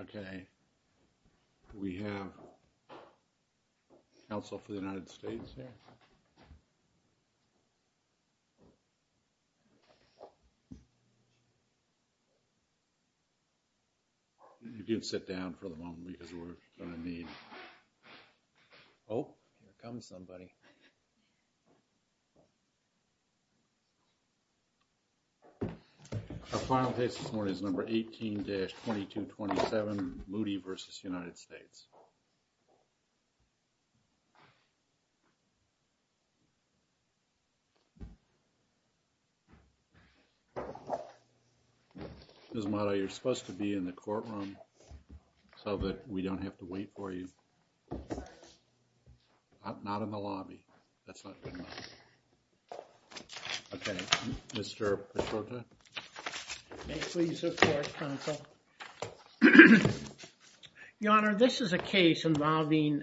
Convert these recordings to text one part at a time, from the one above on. Okay, we have also for the United States here. You can sit down for the moment because we're going to need. Oh, come somebody. Our final case this morning is number 18-2227 Moody versus United States. Ms. Motto, you're supposed to be in the courtroom so that we don't have to wait for you. Not in the lobby. That's not good enough. Okay, Mr. Paschota. May it please the court, counsel. Your Honor, this is a case involving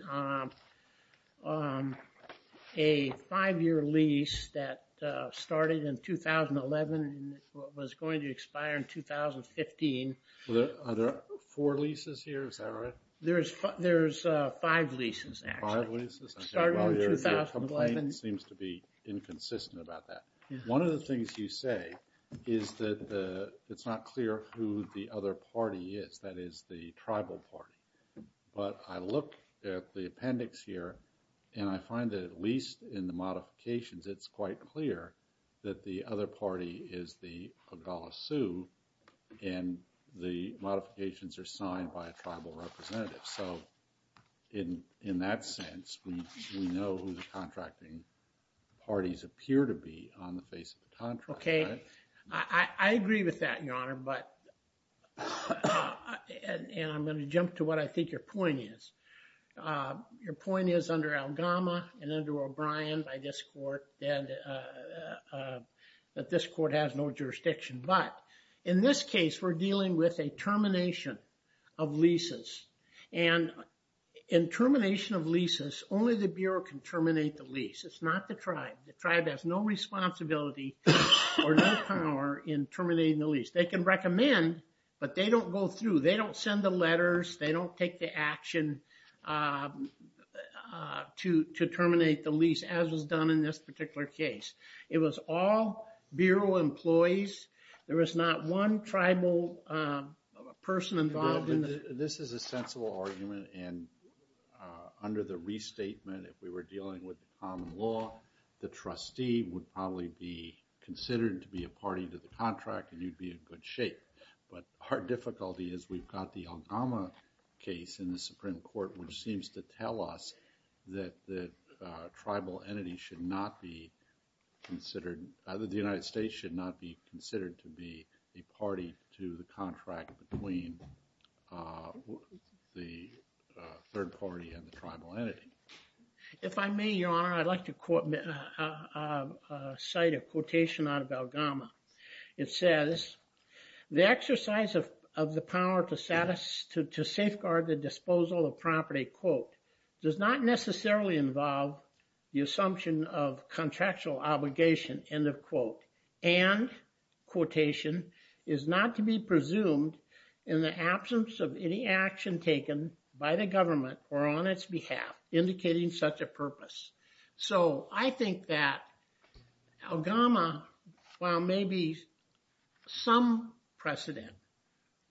a five-year lease that started in 2011 and was going to expire in 2015. Are there four leases here? Is that right? There's five leases, actually. Five leases? Starting in 2011. Your complaint seems to be inconsistent about that. One of the things you say is that it's not clear who the other party is, that is, the tribal party. But I look at the appendix here, and I find that at least in the modifications, it's quite clear that the other party is the Oglala Sioux, and the modifications are signed by a tribal representative. So in that sense, we know who the contracting parties appear to be on the face of the contract. Okay. I agree with that, Your Honor. And I'm going to jump to what I think your point is. Your point is under Algama and under O'Brien by this court that this court has no jurisdiction. But in this case, we're dealing with a termination of leases. And in termination of leases, only the Bureau can terminate the lease. It's not the tribe. The tribe has no responsibility or no power in terminating the lease. They can recommend, but they don't go through. They don't send the letters. They don't take the action to terminate the lease, as was done in this particular case. It was all Bureau employees. There was not one tribal person involved in this. This is a sensible argument, and under the restatement, if we were dealing with common law, the trustee would probably be considered to be a party to the contract, and you'd be in good shape. But our difficulty is we've got the Algama case in the Supreme Court, which seems to tell us that the United States should not be considered to be a party to the contract between the third party and the tribal entity. If I may, Your Honor, I'd like to cite a quotation out of Algama. It says, the exercise of the power to safeguard the disposal of property, quote, does not necessarily involve the assumption of contractual obligation, end of quote, and, quotation, is not to be presumed in the absence of any action taken by the government or on its behalf indicating such a purpose. I think that Algama, while maybe some precedent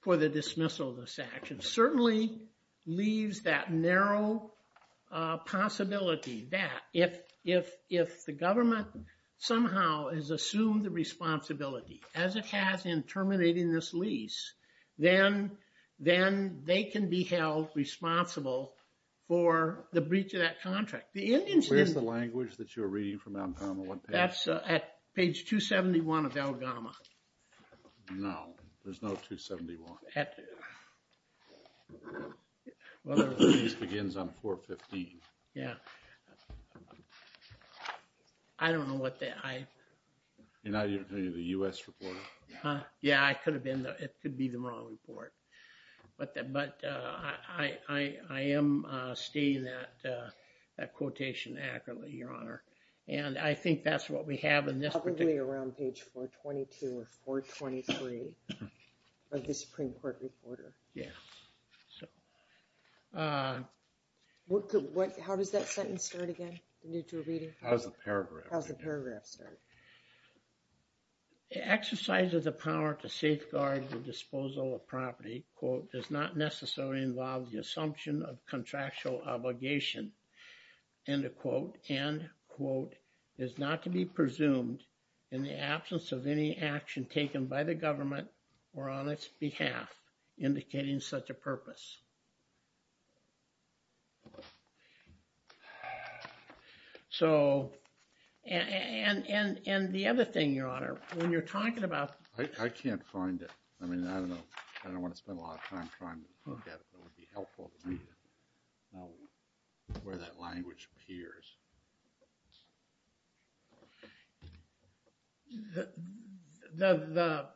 for the dismissal of this action, certainly leaves that narrow possibility that if the government somehow has assumed the responsibility, as it has in terminating this lease, then they can be held responsible for the breach of that contract. Where's the language that you're reading from Algama? That's at page 271 of Algama. No, there's no 271. The lease begins on 415. Yeah. I don't know what that, I... You're not the U.S. reporter? Yeah, I could have been. It could be the wrong report. But I am stating that quotation accurately, Your Honor. And I think that's what we have in this particular... Probably around page 422 or 423 of the Supreme Court report. Yeah. How does that sentence start again? How does the paragraph start? It exercises the power to safeguard the disposal of property, quote, does not necessarily involve the assumption of contractual obligation, end quote, end quote, is not to be presumed in the absence of any action taken by the government or on its behalf indicating such a purpose. So... And the other thing, Your Honor, when you're talking about... I can't find it. I mean, I don't know. I don't want to spend a lot of time trying to look at it. It would be helpful to know where that language appears. The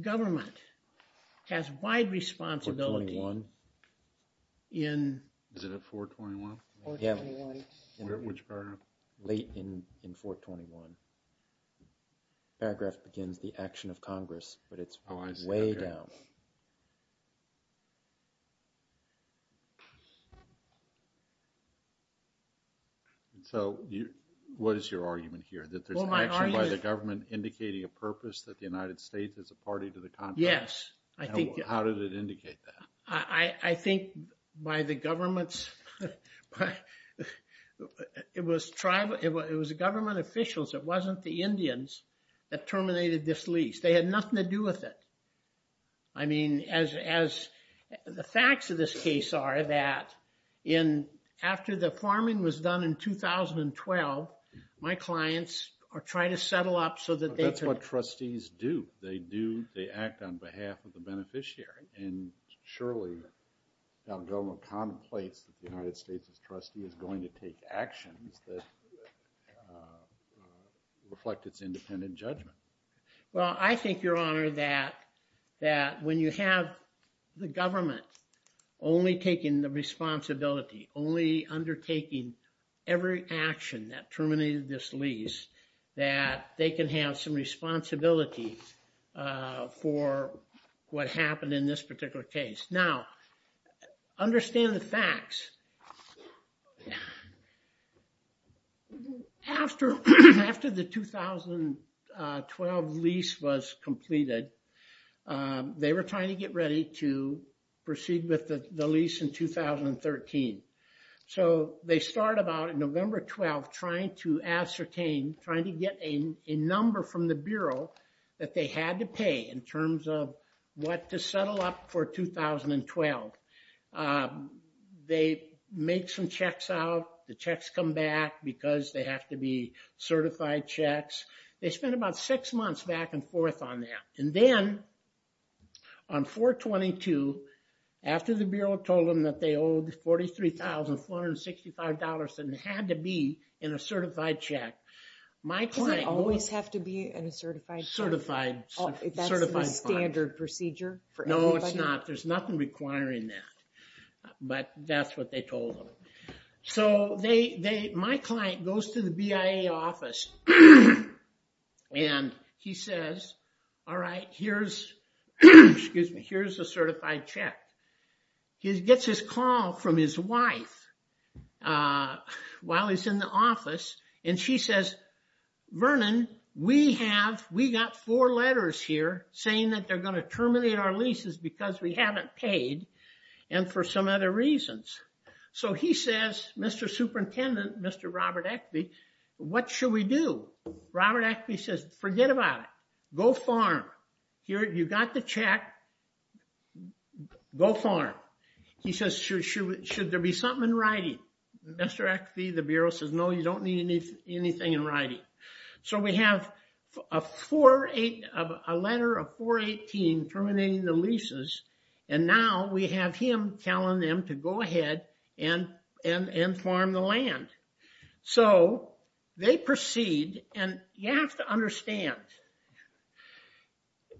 government has wide responsibility in... Is it at 421? Yeah. Late in 421. Paragraph begins the action of Congress, but it's way down. So, what is your argument here? That there's action by the government indicating a purpose that the United States is a party to the contract? Yes, I think... How did it indicate that? I think by the government's... It was tribal... It was government officials. It wasn't the Indians that terminated this lease. They had nothing to do with it. I mean, as the facts of this case are that in... After the farming was done in 2012, my clients are trying to settle up so that they could... That's what trustees do. They do... They act on behalf of the beneficiary. And surely, now the government contemplates that the United States' trustee is going to take actions that reflect its independent judgment. Well, I think, Your Honor, that when you have the government only taking the responsibility, only undertaking every action that terminated this lease, that they can have some responsibility for what happened in this particular case. Now, understand the facts. Yeah. After the 2012 lease was completed, they were trying to get ready to proceed with the lease in 2013. So they start about November 12, trying to ascertain, trying to get a number from the Bureau that they had to pay in terms of what to settle up for 2012. They make some checks out. The checks come back because they have to be certified checks. They spent about six months back and forth on that. And then on 4-22, after the Bureau told them that they owed $43,465 and it had to be in a certified check, my client... Does it always have to be in a certified check? Certified. That's the standard procedure for everybody? No, it's not. There's nothing requiring that. But that's what they told them. So my client goes to the BIA office, and he says, all right, here's a certified check. He gets his call from his wife while he's in the office, and she says, Vernon, we have, we got four letters here saying that they're going to terminate our leases because we haven't paid and for some other reasons. So he says, Mr. Superintendent, Mr. Robert Eckbe, what should we do? Robert Eckbe says, forget about it. Go farm. You got the check. Go farm. He says, should there be something in writing? Mr. Eckbe, the Bureau, says, no, you don't need anything in writing. So we have a letter of 418 terminating the leases, and now we have him telling them to go ahead and farm the land. So they proceed, and you have to understand,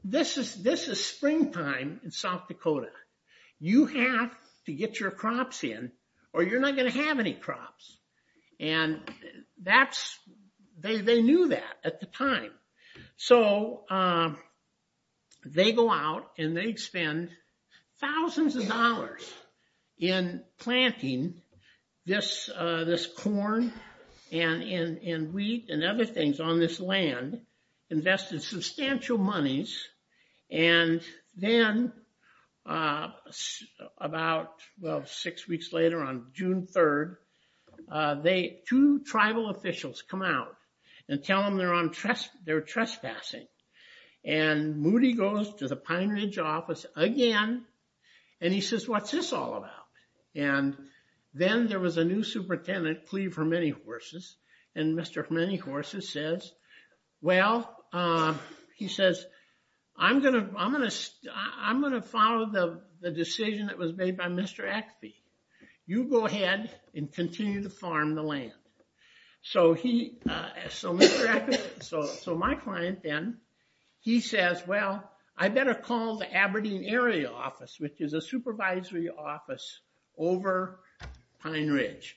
this is springtime in South Dakota. You have to get your crops in, or you're not going to have any crops. And that's, they knew that at the time. So they go out and they spend thousands of dollars in planting this corn and wheat and other things on this land, invested substantial monies, and then about, well, six weeks later on June 3rd, two tribal officials come out and tell them they're trespassing. And Moody goes to the Pine Ridge office again, and he says, what's this all about? And then there was a new superintendent, Cleve Hermenihorces, and Mr. Hermenihorces says, well, he says, I'm going to follow the decision that was made by Mr. Eckfee. You go ahead and continue to farm the land. So he, so Mr. Eckfee, so my client then, he says, well, I better call the Aberdeen area office, which is a supervisory office over Pine Ridge.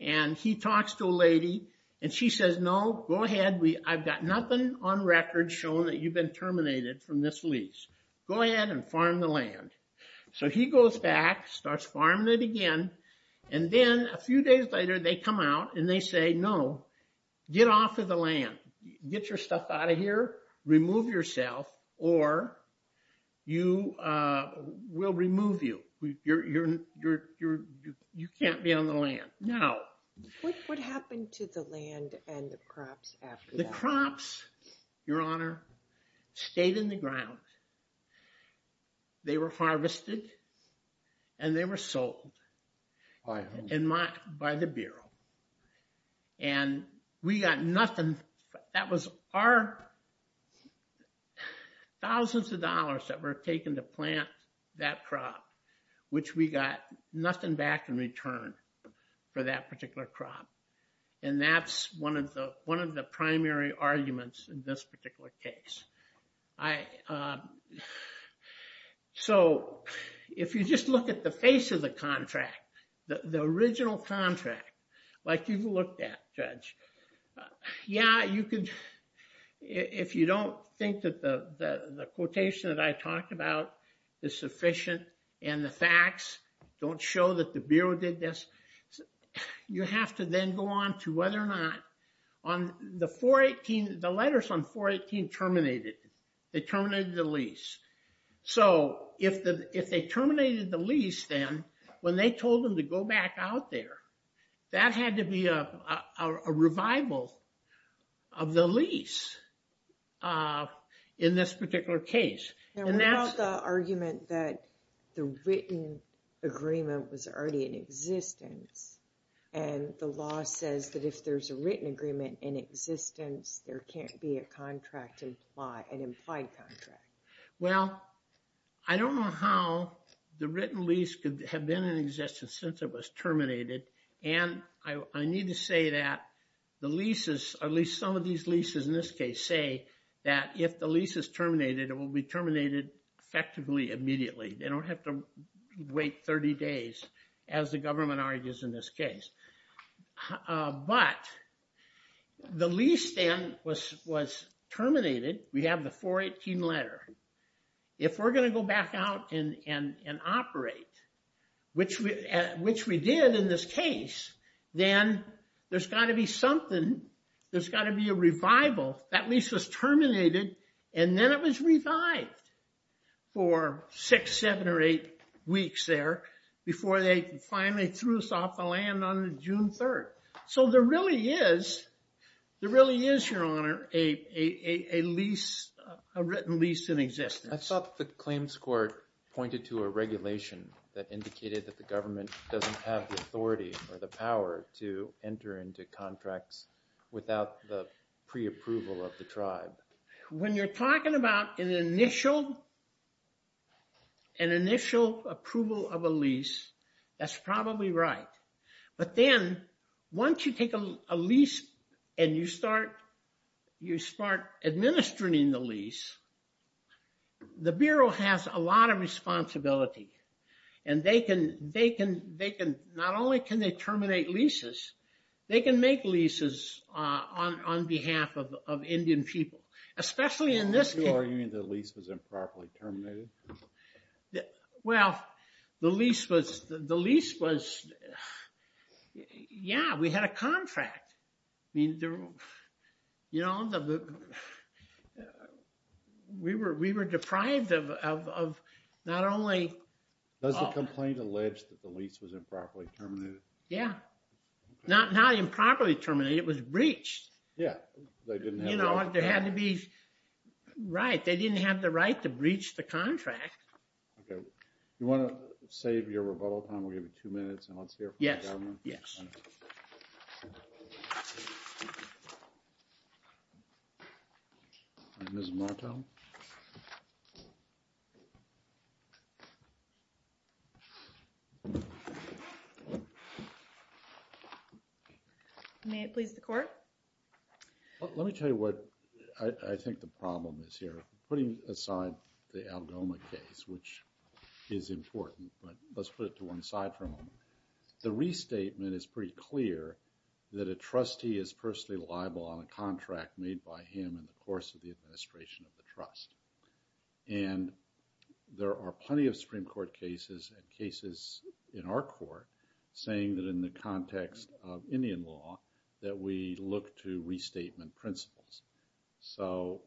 And he talks to a lady, and she says, no, go ahead. I've got nothing on record showing that you've been terminated from this lease. Go ahead and farm the land. So he goes back, starts farming it again, and then a few days later they come out, and they say, no, get off of the land. Get your stuff out of here. Remove yourself, or we'll remove you. You can't be on the land. What happened to the land and the crops after that? The crops, Your Honor, stayed in the ground. They were harvested, and they were sold by the Bureau. And we got nothing. That was our thousands of dollars that were taken to plant that crop, which we got nothing back in return for that particular crop. And that's one of the primary arguments in this particular case. So if you just look at the face of the contract, the original contract, like you've looked at, Judge, yeah, you could, if you don't think that the quotation that I talked about is sufficient and the facts don't show that the Bureau did this, you have to then go on to whether or not on the 418, the letters on 418 terminated. They terminated the lease. So if they terminated the lease then, when they told them to go back out there, that had to be a revival of the lease in this particular case. What about the argument that the written agreement was already in existence, and the law says that if there's a written agreement in existence, there can't be an implied contract? Well, I don't know how the written lease could have been in existence since it was terminated. And I need to say that the leases, at least some of these leases in this case, say that if the lease is terminated, it will be terminated effectively immediately. They don't have to wait 30 days, as the government argues in this case. But the lease then was terminated. We have the 418 letter. If we're going to go back out and operate, which we did in this case, that lease was terminated. And then it was revived for six, seven, or eight weeks there before they finally threw us off the land on June 3. So there really is, your honor, a written lease in existence. I thought the claims court pointed to a regulation that indicated that the government doesn't have the authority or the power to enter into contracts without the pre-approval of the tribe. When you're talking about an initial approval of a lease, that's probably right. But then once you take a lease and you start administering the lease, the Bureau has a lot of responsibility. And not only can they terminate leases, they can make leases on behalf of Indian people, especially in this case. Are you arguing that the lease was improperly terminated? Well, the lease was... Yeah, we had a contract. We were deprived of not only... Does the complaint allege that the lease was improperly terminated? Yeah. Not improperly terminated, it was breached. Yeah. You know, there had to be... Right, they didn't have the right to breach the contract. Okay. Do you want to save your rebuttal time? We'll give you two minutes and let's hear from the government. Yes, yes. Ms. Martel? May it please the Court? Let me tell you what I think the problem is here. Putting aside the Algoma case, which is important, but let's put it to one side for a moment. The restatement is pretty clear that a trustee is personally liable on a contract made by him in the course of the administration of the trust. And there are plenty of Supreme Court cases and cases in our Court saying that in the context of Indian law, that we look to restatement principles. So,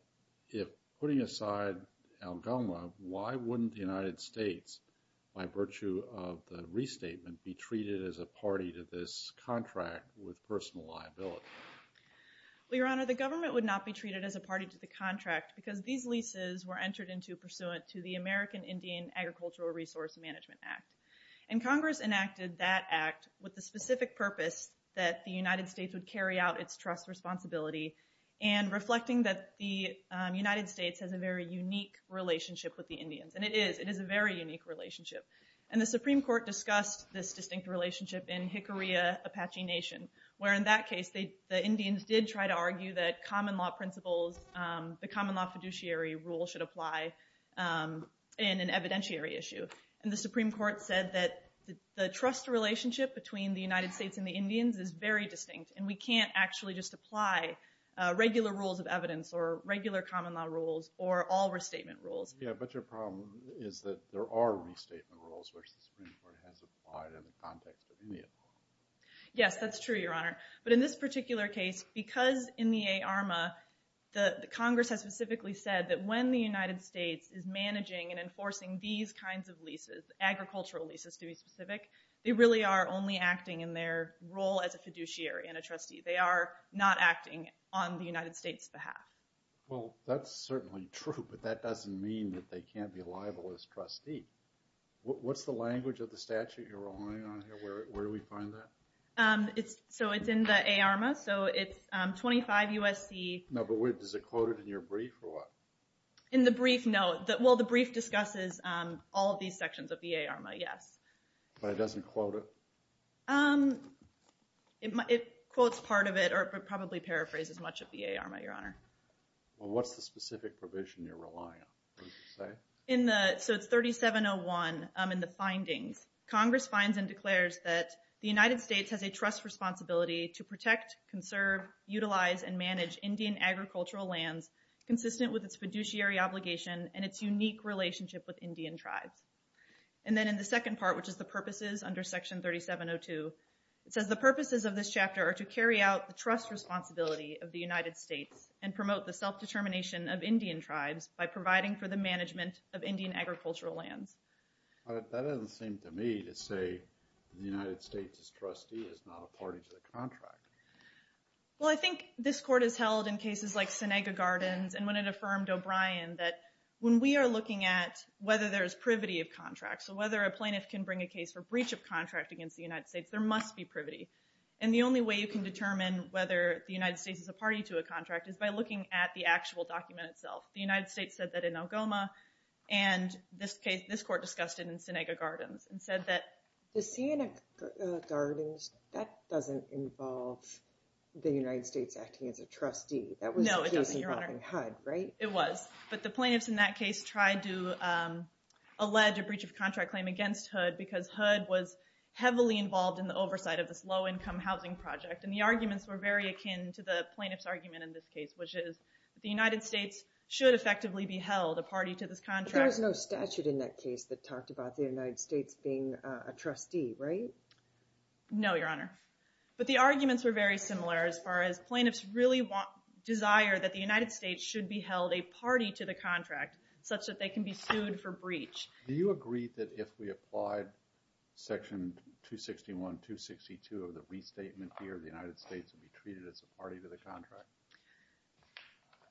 if putting aside Algoma, why wouldn't the United States, by virtue of the restatement, be treated as a party to this contract with personal liability? Well, Your Honor, the government would not be treated as a party to the contract because these leases were entered into pursuant to the American Indian Agricultural Resource Management Act. And Congress enacted that act with the specific purpose that the United States would carry out its trust responsibility and reflecting that the relationship with the Indians. And it is, it is a very unique relationship. And the Supreme Court discussed this distinct relationship in Hickory, Apache Nation, where in that case, the Indians did try to argue that common law principles, the common law fiduciary rule should apply in an evidentiary issue. And the Supreme Court said that the trust relationship between the United States and the Indians is very distinct, and we can't actually just apply regular rules of evidence or regular common law rules or all restatement rules. Yeah, but your problem is that there are restatement rules, which the Supreme Court has applied in the context of India. Yes, that's true, Your Honor. But in this particular case, because in the ARMA, the Congress has specifically said that when the United States is managing and enforcing these kinds of leases, agricultural leases to be specific, they really are only acting in their role as a fiduciary and a trustee. They are not acting on the United States' behalf. Well, that's certainly true, but that doesn't mean that they can't be liable as trustee. What's the language of the statute you're relying on here? Where do we find that? So it's in the ARMA, so it's 25 U.S.C. No, but is it quoted in your brief or what? In the brief, no. Well, the brief discusses all of these sections of the ARMA, yes. But it doesn't quote it? It quotes part of it, or it would probably paraphrase as much of the ARMA, Your Honor. Well, what's the specific provision you're relying on, would you say? So it's 3701 in the findings. Congress finds and declares that the United States has a trust responsibility to protect, conserve, utilize, and manage Indian agricultural lands consistent with its fiduciary obligation and its unique relationship with Indian tribes. And then in the second part, which is the purposes under Section 3702, it says the purposes of this chapter are to carry out the trust responsibility of the United States and promote the self-determination of Indian tribes by providing for the management of Indian agricultural lands. That doesn't seem to me to say the United States is trustee, it's not a party to the contract. Well, I think this court has held in cases like Senega Gardens and when it affirmed O'Brien that when we are looking at whether there is privity of contract, so whether a plaintiff can bring a case for breach of contract, there must be privity. And the only way you can determine whether the United States is a party to a contract is by looking at the actual document itself. The United States said that in Algoma and this case, this court discussed it in Senega Gardens and said that... The Senega Gardens, that doesn't involve the United States acting as a trustee, that was the case involving HUD, right? No, it doesn't, Your Honor. It was. But the plaintiffs in that case tried to allege a breach of contract claim against HUD because HUD was heavily involved in the oversight of this low-income housing project. And the arguments were very akin to the plaintiff's argument in this case, which is the United States should effectively be held a party to this contract. But there was no statute in that case that talked about the United States being a trustee, right? No, Your Honor. But the arguments were very similar as far as plaintiffs really desire that the United States should be held a party to the contract such that they can be sued for breach. Do you agree that if we applied Section 261, 262 of the restatement here, the United States would be treated as a party to the contract?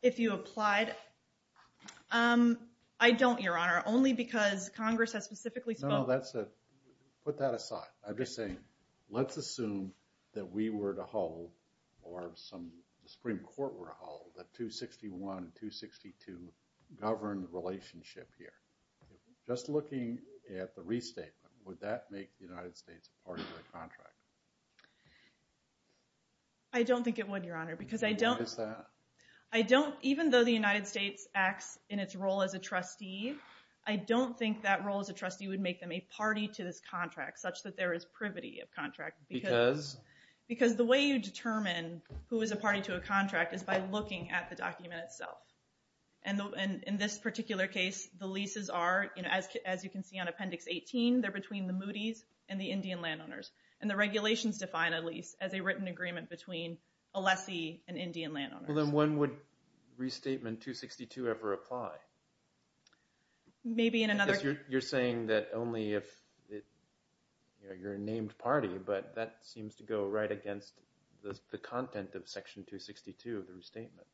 If you applied? I don't, Your Honor, only because Congress has specifically spoken. No, put that aside. I'm just saying let's assume that we were to hold or some Supreme Court were to hold a 261, 262 governed relationship here. Just looking at the restatement, would that make the United States a party to the contract? I don't think it would, Your Honor, because I don't. Why is that? Even though the United States acts in its role as a trustee, I don't think that role as a trustee would make them a party to this contract such that there is privity of contract. Because? Because the way you determine who is a party to a contract is by looking at the document itself. In this particular case, the leases are, as you can see on Appendix 18, they're between the Moody's and the Indian landowners. The regulations define a lease as a written agreement between a lessee and Indian landowners. Then when would Restatement 262 ever apply? Maybe in another case. You're saying that only if you're a named party, but that seems to go right against the content of Section 262 of the Restatement.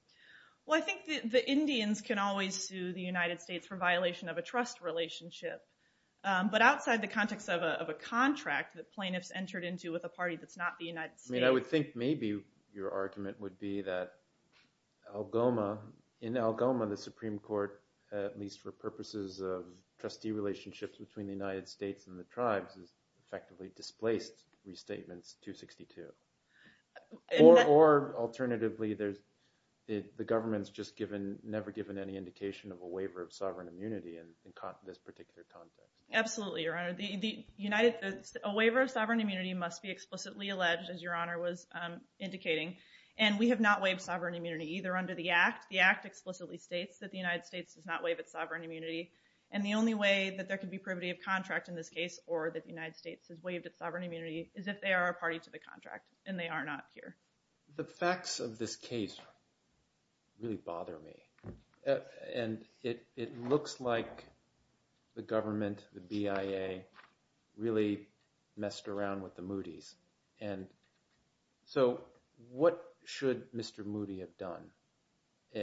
I think the Indians can always sue the United States for violation of a trust relationship. But outside the context of a contract that plaintiffs entered into with a party that's not the United States. I would think maybe your argument would be that in Algoma, the Supreme Court, at least for purposes of trustee relationships between the United States and the tribes, has effectively displaced Restatements 262. Or alternatively, the government's just never given any indication of a waiver of sovereign immunity in this particular context. Absolutely, Your Honor. A waiver of sovereign immunity must be explicitly alleged, as Your Honor was indicating. And we have not waived sovereign immunity either under the Act. The Act explicitly states that the United States does not waive its sovereign immunity. And the only way that there could be privity of contract in this case or that the United States has waived its sovereign immunity is if they are a party to the contract, and they are not here. The facts of this case really bother me. And it looks like the government, the BIA, really messed around with the Moody's. And so what should Mr. Moody have done?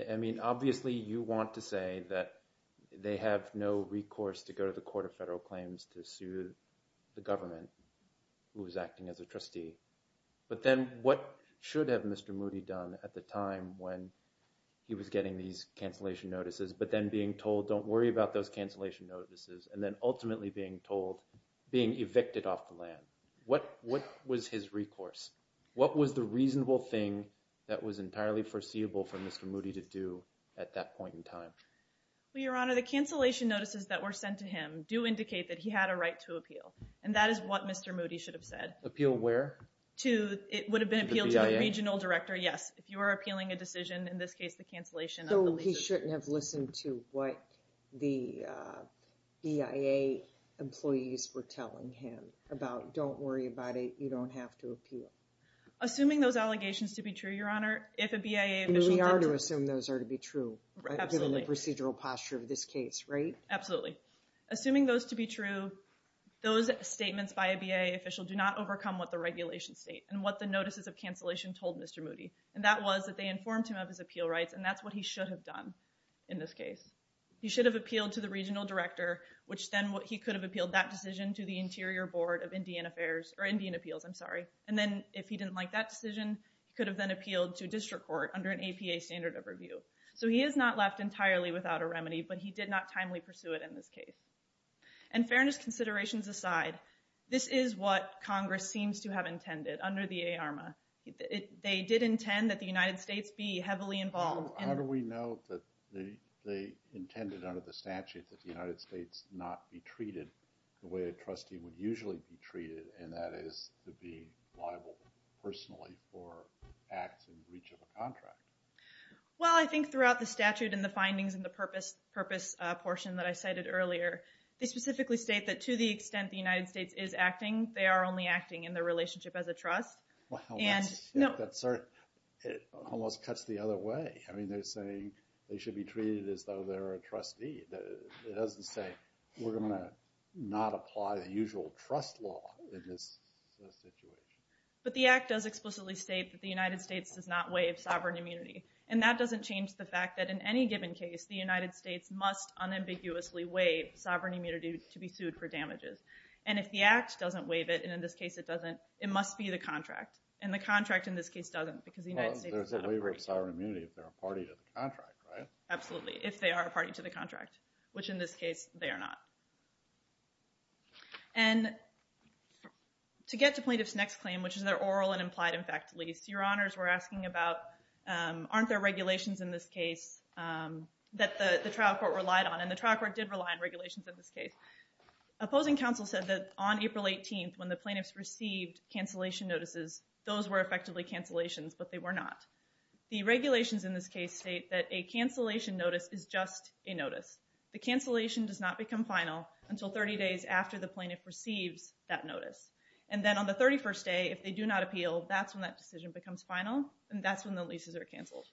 I mean, obviously, you want to say that they have no recourse to go to the Court of Federal Claims to sue the government, who was acting as a trustee. But then what should have Mr. Moody done at the time when he was getting these cancellation notices, but then being told, don't worry about those cancellation notices, and then ultimately being told, being evicted off the land? What was his recourse? What was the reasonable thing that was entirely foreseeable for Mr. Moody to do at that point in time? Well, Your Honor, the cancellation notices that were sent to him do indicate that he had a right to appeal. And that is what Mr. Moody should have said. Appeal where? It would have been appealed to the regional director, yes. If you are appealing a decision, in this case, the cancellation. So he shouldn't have listened to what the BIA employees were telling him about, don't worry about it. You don't have to appeal. Assuming those allegations to be true, Your Honor, if a BIA official. We are to assume those are to be true, given the procedural posture of this case, right? Absolutely. Assuming those to be true, those statements by a BIA official do not overcome what the regulations state and what the notices of cancellation told Mr. Moody. And that was that they informed him of his appeal rights. And that's what he should have done in this case. He should have appealed to the regional director, which then he could have appealed that decision to the interior board of Indian affairs or Indian appeals. I'm sorry. And then if he didn't like that decision, he could have then appealed to district court under an APA standard of review. So he is not left entirely without a remedy, but he did not timely pursue it in this case. And fairness considerations aside, this is what Congress seems to have intended under the ARMA. They did intend that the United States be heavily involved. How do we know that they intended under the statute that the United States not be treated the way a trustee would usually be treated? And that is to be liable personally for acts in breach of a contract. Well, I think throughout the statute and the findings and the purpose portion that I cited earlier, they specifically state that to the extent the United States is acting, they are only acting in their relationship as a trust. Well, that almost cuts the other way. I mean, they're saying they should be treated as though they're a trustee. It doesn't say we're going to not apply the usual trust law. But the act does explicitly state that the United States does not waive sovereign immunity. And that doesn't change the fact that in any given case, the United States must unambiguously waive sovereign immunity to be sued for damages. And if the act doesn't waive it, and in this case it doesn't, it must be the contract and the contract in this case doesn't because the United States is not a party. Well, there's a waiver of sovereign immunity if they're a party to the contract, right? Absolutely. If they are a party to the contract, which in this case they are not. And to get to plaintiff's next claim, which is their oral and implied in fact lease, your honors were asking about, aren't there regulations in this case that the trial court relied on? And the trial court did rely on regulations in this case. Opposing counsel said that on April 18th, when the plaintiffs received cancellation notices, those were effectively cancellations, but they were not the regulations in this case state that a cancellation notice is just a notice. The cancellation does not become final until 30 days after the plaintiff receives that notice. And then on the 31st day, if they do not appeal, that's when that decision becomes final and that's when the leases are canceled.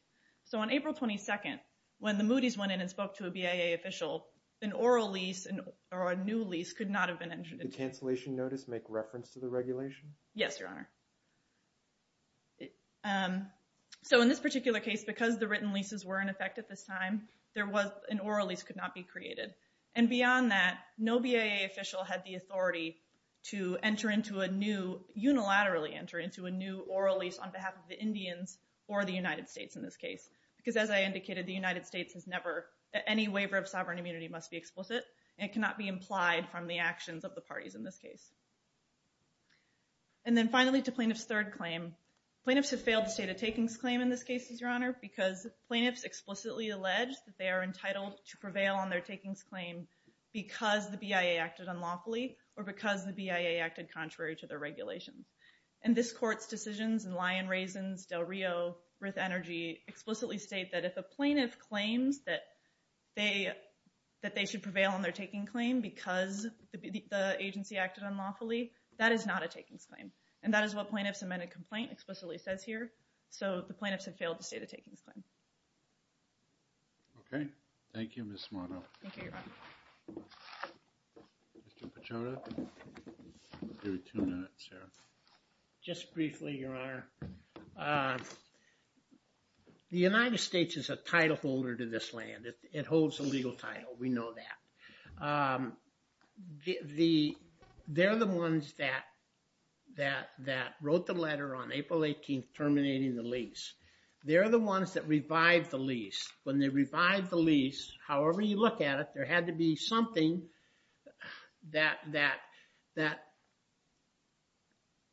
So on April 22nd, when the Moody's went in and spoke to a BIA official, an oral lease or a new lease could not have been entered. Did the cancellation notice make reference to the regulation? Yes, your honor. So in this particular case, because the written leases were in effect at this time, there was an oral lease could not be created. And beyond that, no BIA official had the authority to enter into a new unilaterally enter into a new oral lease on behalf of the Indians or the United States in this case. Because as I indicated, the United States has never any waiver of sovereign immunity must be explicit. It cannot be implied from the actions of the parties in this case. And then finally to plaintiff's third claim, plaintiffs have failed the state of takings claim in this case is your alleged that they are entitled to prevail on their takings claim because the BIA acted on lawfully or because the BIA acted contrary to their regulations. And this court's decisions and lion raisins, Del Rio with energy explicitly state that if the plaintiff claims that they, that they should prevail on their taking claim because the agency acted on lawfully, that is not a takings claim. And that is what plaintiffs amended complaint explicitly says here. So the plaintiffs have failed to say the takings claim. Okay. Thank you. Ms. Mono. Okay. Mr. Pachauda. Give me two minutes here. Just briefly, your honor. Uh, the United States is a title holder to this land. It holds a legal title. We know that, um, the, the, they're the ones that, that, that wrote the letter on April 18th, terminating the lease. They're the ones that revived the lease. When they revived the lease, however you look at it, there had to be something that, that, that,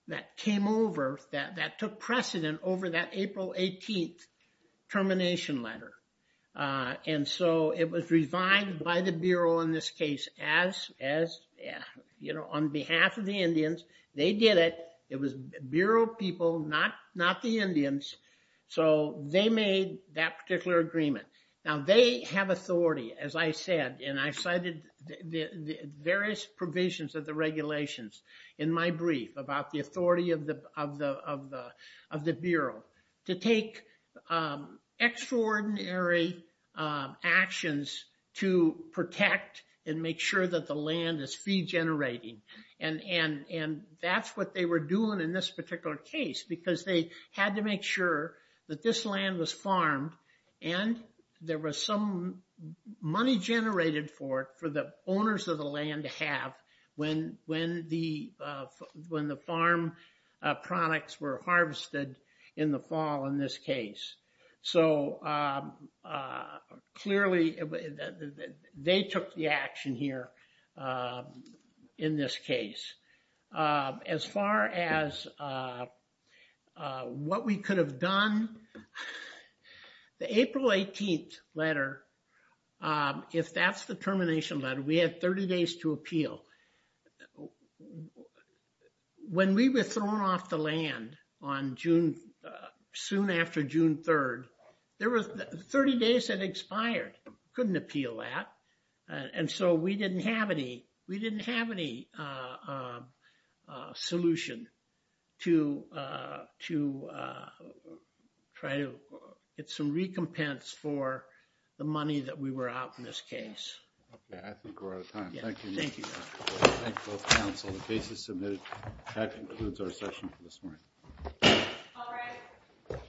that came over, that, that took precedent over that April 18th termination letter. Uh, and so it was revived by the Bureau in this case, as, as, you know, on behalf of the Indians, they did it. It was Bureau people, not, not the Indians. So they made that particular agreement. Now they have authority, as I said, and I cited the, the various provisions of the regulations in my brief about the authority of the, of the, of the, of the Bureau to take, um, extraordinary, um, actions to protect and make sure that the land is free generating. And, and, and that's what they were doing in this particular case, because they had to make sure that this land was farmed. And there was some money generated for it, for the owners of the land to have when, when the, uh, when the farm products were harvested in the fall in this case. So, um, uh, clearly they took the action here, um, in this case. Um, as far as, uh, uh, what we could have done, the April 18th letter, um, if that's the termination letter, we had 30 days to appeal. When we were thrown off the land on June, uh, soon after June 3rd, there was 30 days that expired. Couldn't appeal that. And so we didn't have any, we didn't have any, uh, um, uh, solution to, uh, to, uh, try to get some recompense for the money that we were out in this case. Yeah, I think we're out of time. Thank you. Thank you. Thank you both counsel. The case is submitted. That concludes our session for this morning. All right.